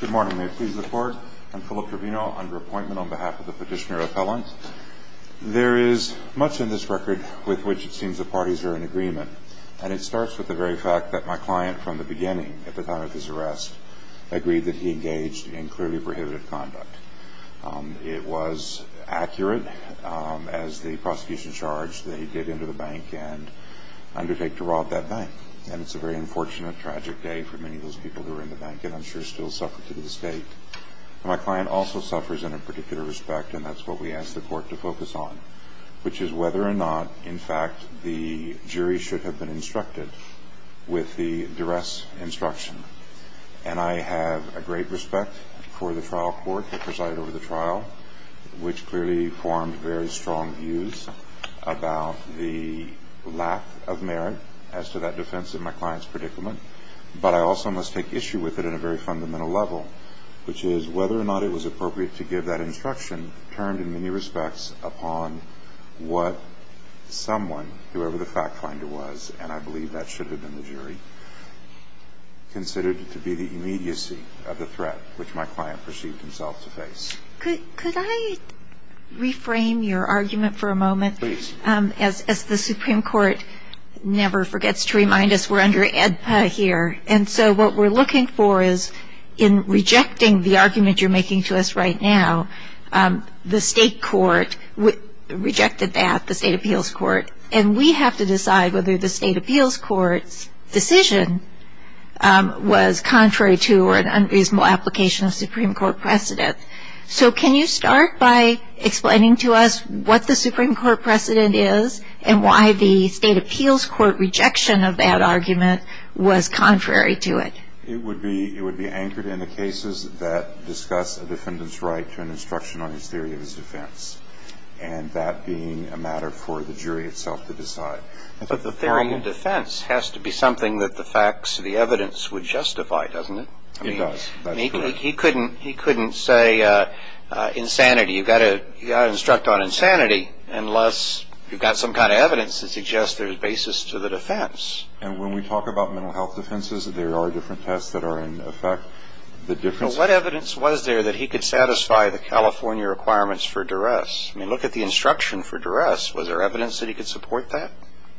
Good morning. May it please the Court? I'm Philip Trevino under appointment on behalf of the petitioner appellant. There is much in this record with which it seems the parties are in agreement, and it starts with the very fact that my client from the beginning, at the time of his arrest, agreed that he engaged in clearly prohibited conduct. It was accurate, as the prosecution charged, that he did enter the bank and undertake to rob that bank. And it's a very unfortunate, tragic day for many of those people who are in the bank and I'm sure still suffer to this day. My client also suffers in a particular respect, and that's what we ask the Court to focus on, which is whether or not, in fact, the jury should have been instructed with the duress instruction. And I have a great respect for the trial court that presided over the trial, which clearly formed very strong views about the lack of merit as to that defense in my client's predicament. But I also must take issue with it in a very fundamental level, which is whether or not it was appropriate to give that instruction, termed in many respects upon what someone, whoever the fact finder was, considered to be the immediacy of the threat which my client perceived himself to face. Could I reframe your argument for a moment? Please. As the Supreme Court never forgets to remind us, we're under AEDPA here. And so what we're looking for is in rejecting the argument you're making to us right now, the State Court rejected that, the State Appeals Court, and we have to decide whether the State Appeals Court's decision was contrary to or an unreasonable application of Supreme Court precedent. So can you start by explaining to us what the Supreme Court precedent is and why the State Appeals Court rejection of that argument was contrary to it? It would be anchored in the cases that discuss a defendant's right to an instruction on his theory of his defense, and that being a matter for the jury itself to decide. But the theory of defense has to be something that the facts, the evidence would justify, doesn't it? It does. He couldn't say insanity. You've got to instruct on insanity unless you've got some kind of evidence that suggests there's basis to the defense. And when we talk about mental health defenses, there are different tests that are in effect. What evidence was there that he could satisfy the California requirements for duress? I mean, look at the instruction for duress. Was there evidence that he could support that?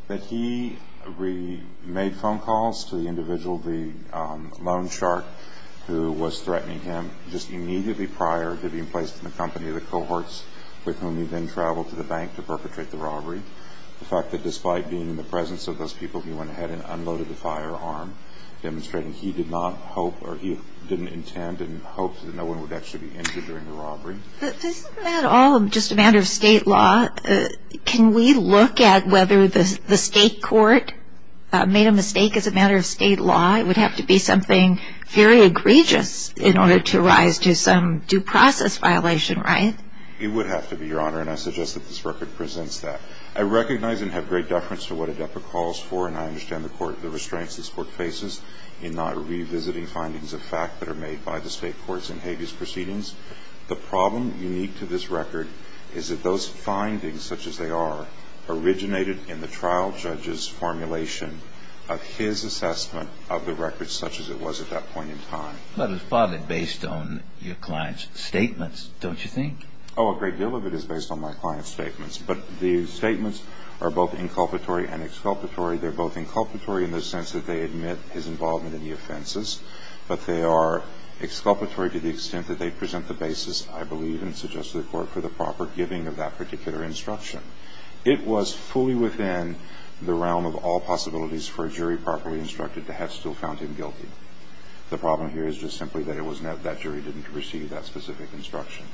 That he made phone calls to the individual, the loan shark, who was threatening him just immediately prior to being placed in the company of the cohorts with whom he then traveled to the bank to perpetrate the robbery. The fact that despite being in the presence of those people, he went ahead and unloaded the firearm, demonstrating he did not hope or he didn't intend and hoped that no one would actually be injured during the robbery. Isn't that all just a matter of state law? Can we look at whether the state court made a mistake as a matter of state law? It would have to be something very egregious in order to rise to some due process violation, right? It would have to be, Your Honor, and I suggest that this record presents that. I recognize and have great deference to what ADEPA calls for, and I understand the restraints this Court faces in not revisiting findings of fact that are made by the state courts in habeas proceedings. The problem unique to this record is that those findings, such as they are, originated in the trial judge's formulation of his assessment of the record, such as it was at that point in time. But it was probably based on your client's statements, don't you think? Oh, a great deal of it is based on my client's statements. But the statements are both inculpatory and exculpatory. They're both inculpatory in the sense that they admit his involvement in the offenses, but they are exculpatory to the extent that they present the basis, I believe, and suggest to the Court for the proper giving of that particular instruction. It was fully within the realm of all possibilities for a jury properly instructed to have still found him guilty. The problem here is just simply that it was not that jury didn't receive that specific instruction.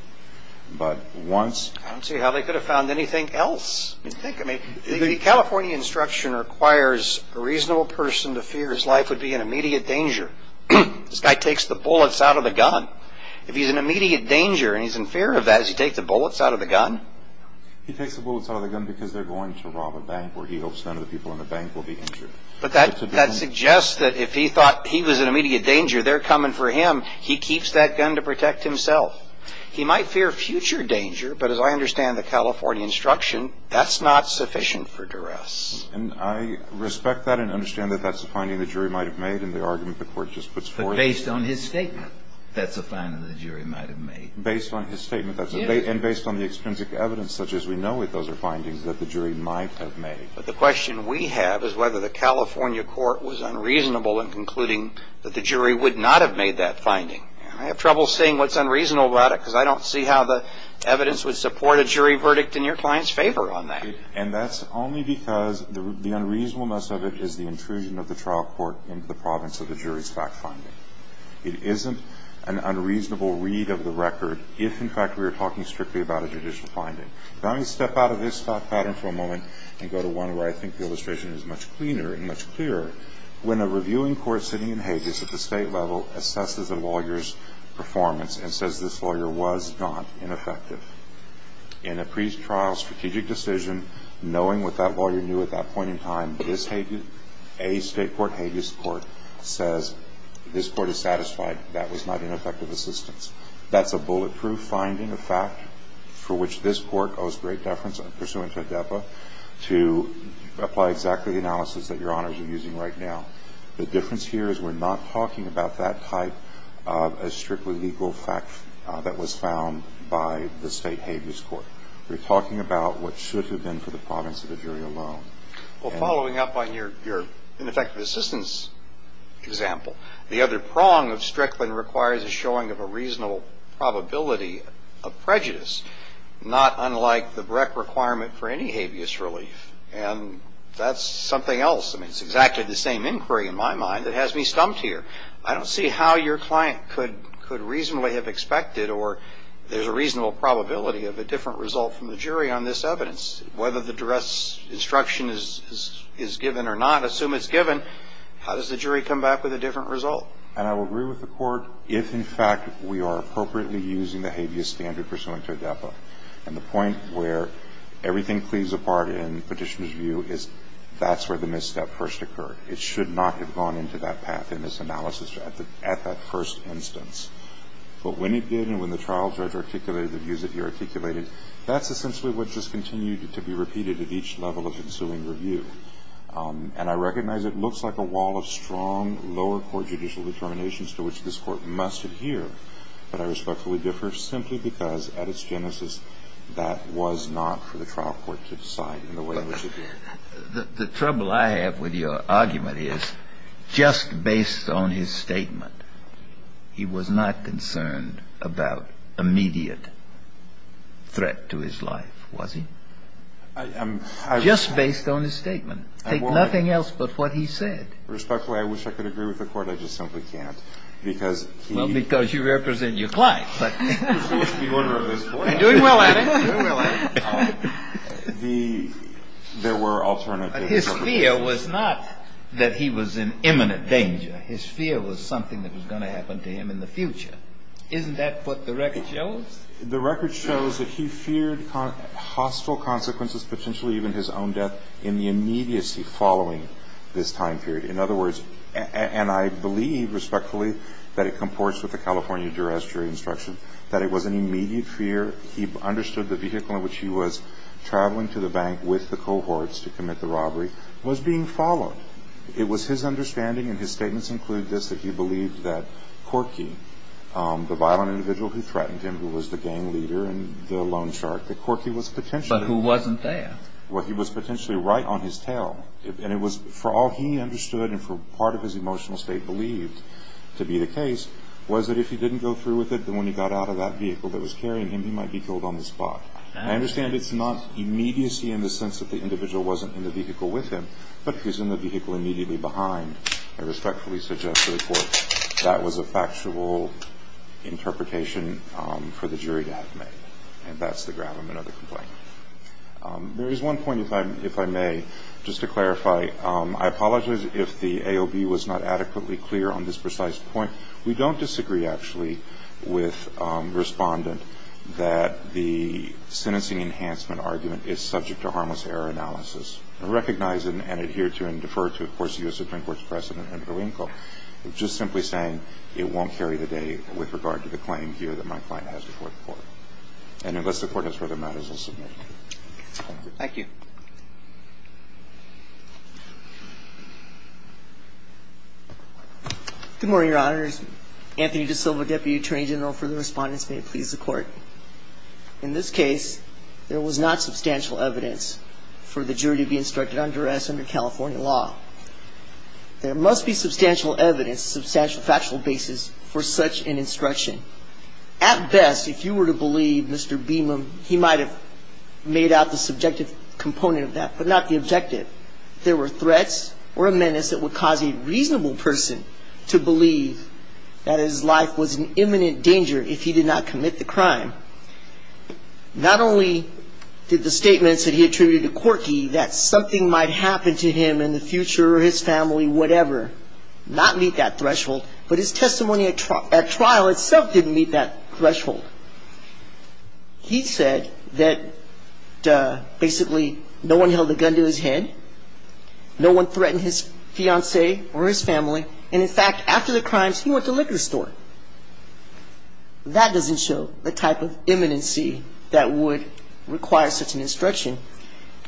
But once ---- I don't see how they could have found anything else. I mean, California instruction requires a reasonable person to fear his life would be in immediate danger. This guy takes the bullets out of the gun. If he's in immediate danger and he's in fear of that, does he take the bullets out of the gun? He takes the bullets out of the gun because they're going to rob a bank where he hopes none of the people in the bank will be injured. But that suggests that if he thought he was in immediate danger, they're coming for him. He keeps that gun to protect himself. He might fear future danger, but as I understand the California instruction, that's not sufficient for duress. And I respect that and understand that that's a finding the jury might have made in the argument the Court just puts forth. But based on his statement, that's a finding the jury might have made. Based on his statement, that's a ---- Yes. And based on the extrinsic evidence such as we know that those are findings that the jury might have made. But the question we have is whether the California Court was unreasonable in concluding that the jury would not have made that finding. I have trouble seeing what's unreasonable about it because I don't see how the evidence would support a jury verdict in your client's favor on that. And that's only because the unreasonableness of it is the intrusion of the trial court into the province of the jury's fact finding. It isn't an unreasonable read of the record if, in fact, we were talking strictly about a judicial finding. Let me step out of this thought pattern for a moment and go to one where I think the illustration is much cleaner and much clearer. When a reviewing court sitting in habeas at the state level assesses a lawyer's performance and says this lawyer was not ineffective, in a pretrial strategic decision, knowing what that lawyer knew at that point in time, a state court habeas court says this court is satisfied that was not ineffective assistance. That's a bulletproof finding, a fact for which this court owes great deference, pursuant to ADEPA, to apply exactly the analysis that Your Honors are using right now. The difference here is we're not talking about that type of a strictly legal fact that was found by the state habeas court. We're talking about what should have been for the province of the jury alone. Well, following up on your ineffective assistance example, the other prong of Strickland requires a showing of a reasonable probability of prejudice, not unlike the Breck requirement for any habeas relief. And that's something else. I mean, it's exactly the same inquiry in my mind that has me stumped here. I don't see how your client could reasonably have expected or there's a reasonable probability of a different result from the jury on this evidence. Whether the direct instruction is given or not, assume it's given, how does the jury come back with a different result? And I will agree with the court if, in fact, we are appropriately using the habeas standard pursuant to ADEPA. And the point where everything cleaves apart in petitioner's view is that's where the misstep first occurred. It should not have gone into that path in this analysis at that first instance. But when it did and when the trial judge articulated the views that he articulated, that's essentially what just continued to be repeated at each level of ensuing review. And I recognize it looks like a wall of strong lower court judicial determinations to which this Court must adhere. But I respectfully differ simply because at its genesis, that was not for the trial court to decide in the way in which it did. The trouble I have with your argument is just based on his statement, he was not concerned about immediate threat to his life, was he? Just based on his statement. Take nothing else but what he said. Respectfully, I wish I could agree with the court. I just simply can't because he... Well, because you represent your client. I'm doing well at it. There were alternatives. His fear was not that he was in imminent danger. His fear was something that was going to happen to him in the future. Isn't that what the record shows? The record shows that he feared hostile consequences, potentially even his own death in the immediacy following this time period. In other words, and I believe respectfully, that it comports with the California duress jury instruction, that it was an immediate fear. He understood the vehicle in which he was traveling to the bank with the cohorts to commit the robbery was being followed. It was his understanding, and his statements include this, that he believed that Corky, the violent individual who threatened him, who was the gang leader and the loan shark, that Corky was potentially... But who wasn't there. Well, he was potentially right on his tail. And it was, for all he understood and for part of his emotional state believed to be the case, was that if he didn't go through with it, then when he got out of that vehicle that was carrying him, he might be killed on the spot. I understand it's not immediacy in the sense that the individual wasn't in the vehicle with him, but he's in the vehicle immediately behind. I respectfully suggest to the Court that was a factual interpretation for the jury to have made. And that's the gravamen of the complaint. There is one point, if I may, just to clarify. I apologize if the AOB was not adequately clear on this precise point. We don't disagree, actually, with Respondent that the sentencing enhancement argument is subject to harmless error analysis. I recognize and adhere to and defer to, of course, the U.S. Supreme Court's precedent under the lien code. I'm just simply saying it won't carry the day with regard to the claim here that my client has before the Court. And unless the Court has further matters, I'll submit. Thank you. Good morning, Your Honors. Anthony DiSilva, Deputy Attorney General for the Respondents. May it please the Court. In this case, there was not substantial evidence for the jury to be instructed on duress under California law. There must be substantial evidence, substantial factual basis for such an instruction. At best, if you were to believe Mr. Beamon, he might have made out the subjective component of that, but not the objective. There were threats or a menace that would cause a reasonable person to believe that his life was in imminent danger if he did not commit the crime. Not only did the statements that he attributed to Corky that something might happen to him in the future or his family, whatever, not meet that threshold, but his testimony at trial itself didn't meet that threshold. He said that basically no one held a gun to his head, no one threatened his fiancée or his family, and in fact, after the crimes, he went to the liquor store. That doesn't show the type of imminency that would require such an instruction.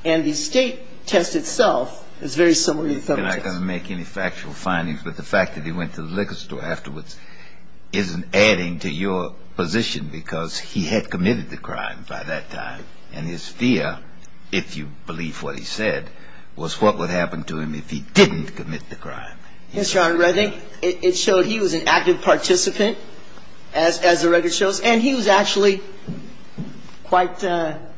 And the State test itself is very similar to the Federal test. You're not going to make any factual findings, but the fact that he went to the liquor store afterwards isn't adding to your position because he had committed the crime by that time, and his fear, if you believe what he said, was what would happen to him if he didn't commit the crime. Yes, Your Honor. I think it showed he was an active participant, as the record shows, and he was actually quite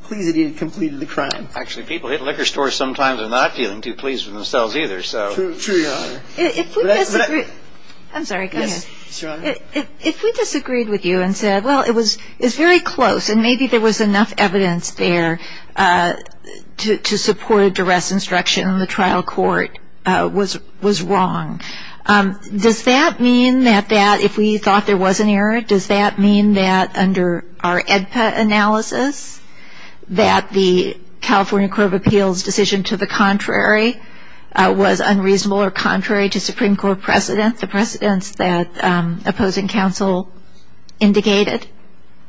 pleased that he had completed the crime. Actually, people at liquor stores sometimes are not feeling too pleased with themselves either, so. True, Your Honor. If we disagreed with you and said, well, it's very close and maybe there was enough evidence there to support a duress instruction and the trial court was wrong, does that mean that if we thought there was an error, does that mean that under our AEDPA analysis, that the California Court of Appeals' decision to the contrary was unreasonable or contrary to Supreme Court precedents, the precedents that opposing counsel indicated?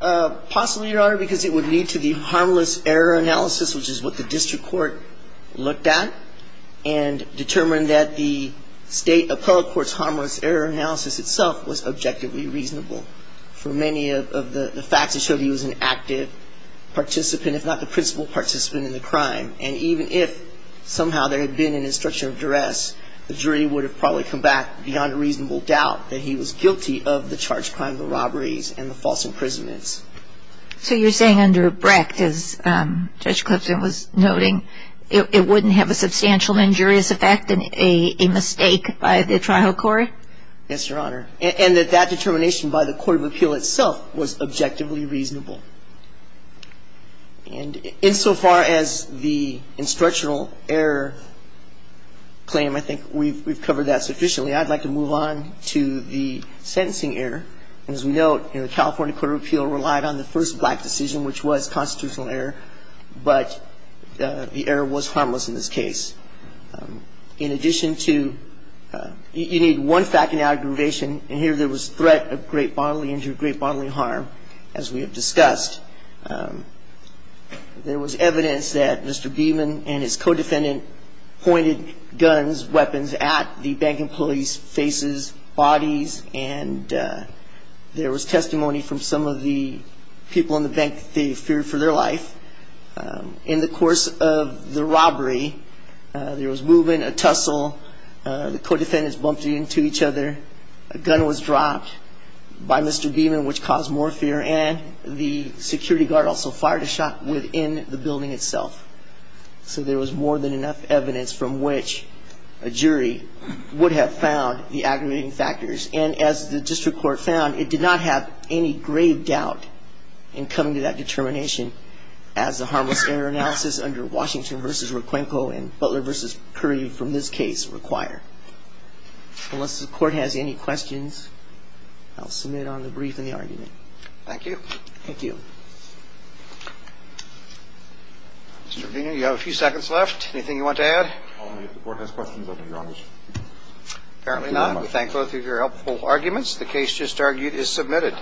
Possibly, Your Honor, because it would lead to the harmless error analysis, which is what the district court looked at and determined that the state appellate court's harmless error analysis itself was objectively reasonable. For many of the facts, it showed he was an active participant, if not the principal participant in the crime, and even if somehow there had been an instruction of duress, the jury would have probably come back beyond a reasonable doubt that he was guilty of the charged crime of the robberies and the false imprisonments. So you're saying under Brecht, as Judge Clipson was noting, it wouldn't have a substantial injurious effect, a mistake by the trial court? Yes, Your Honor. And that that determination by the Court of Appeal itself was objectively reasonable. And insofar as the instructional error claim, I think we've covered that sufficiently. I'd like to move on to the sentencing error. As we note, the California Court of Appeal relied on the first black decision, which was constitutional error, but the error was harmless in this case. In addition to you need one fact in aggravation, and here there was threat of great bodily injury, great bodily harm, as we have discussed. There was evidence that Mr. Beeman and his co-defendant pointed guns, weapons at the bank employees' faces, bodies, and there was testimony from some of the people in the bank that they feared for their life. In the course of the robbery, there was movement, a tussle, the co-defendants bumped into each other, a gun was dropped by Mr. Beeman, which caused more fear, and the security guard also fired a shot within the building itself. So there was more than enough evidence from which a jury would have found the aggravating factors. And as the district court found, it did not have any grave doubt in coming to that determination as the harmless error analysis under Washington v. Requenco and Butler v. Curry from this case require. Unless the court has any questions, I'll submit on the brief and the argument. Thank you. Thank you. Mr. Verdino, you have a few seconds left. Anything you want to add? Only if the Court has questions of me, Your Honor. Apparently not. We thank both of your helpful arguments. The case just argued is submitted.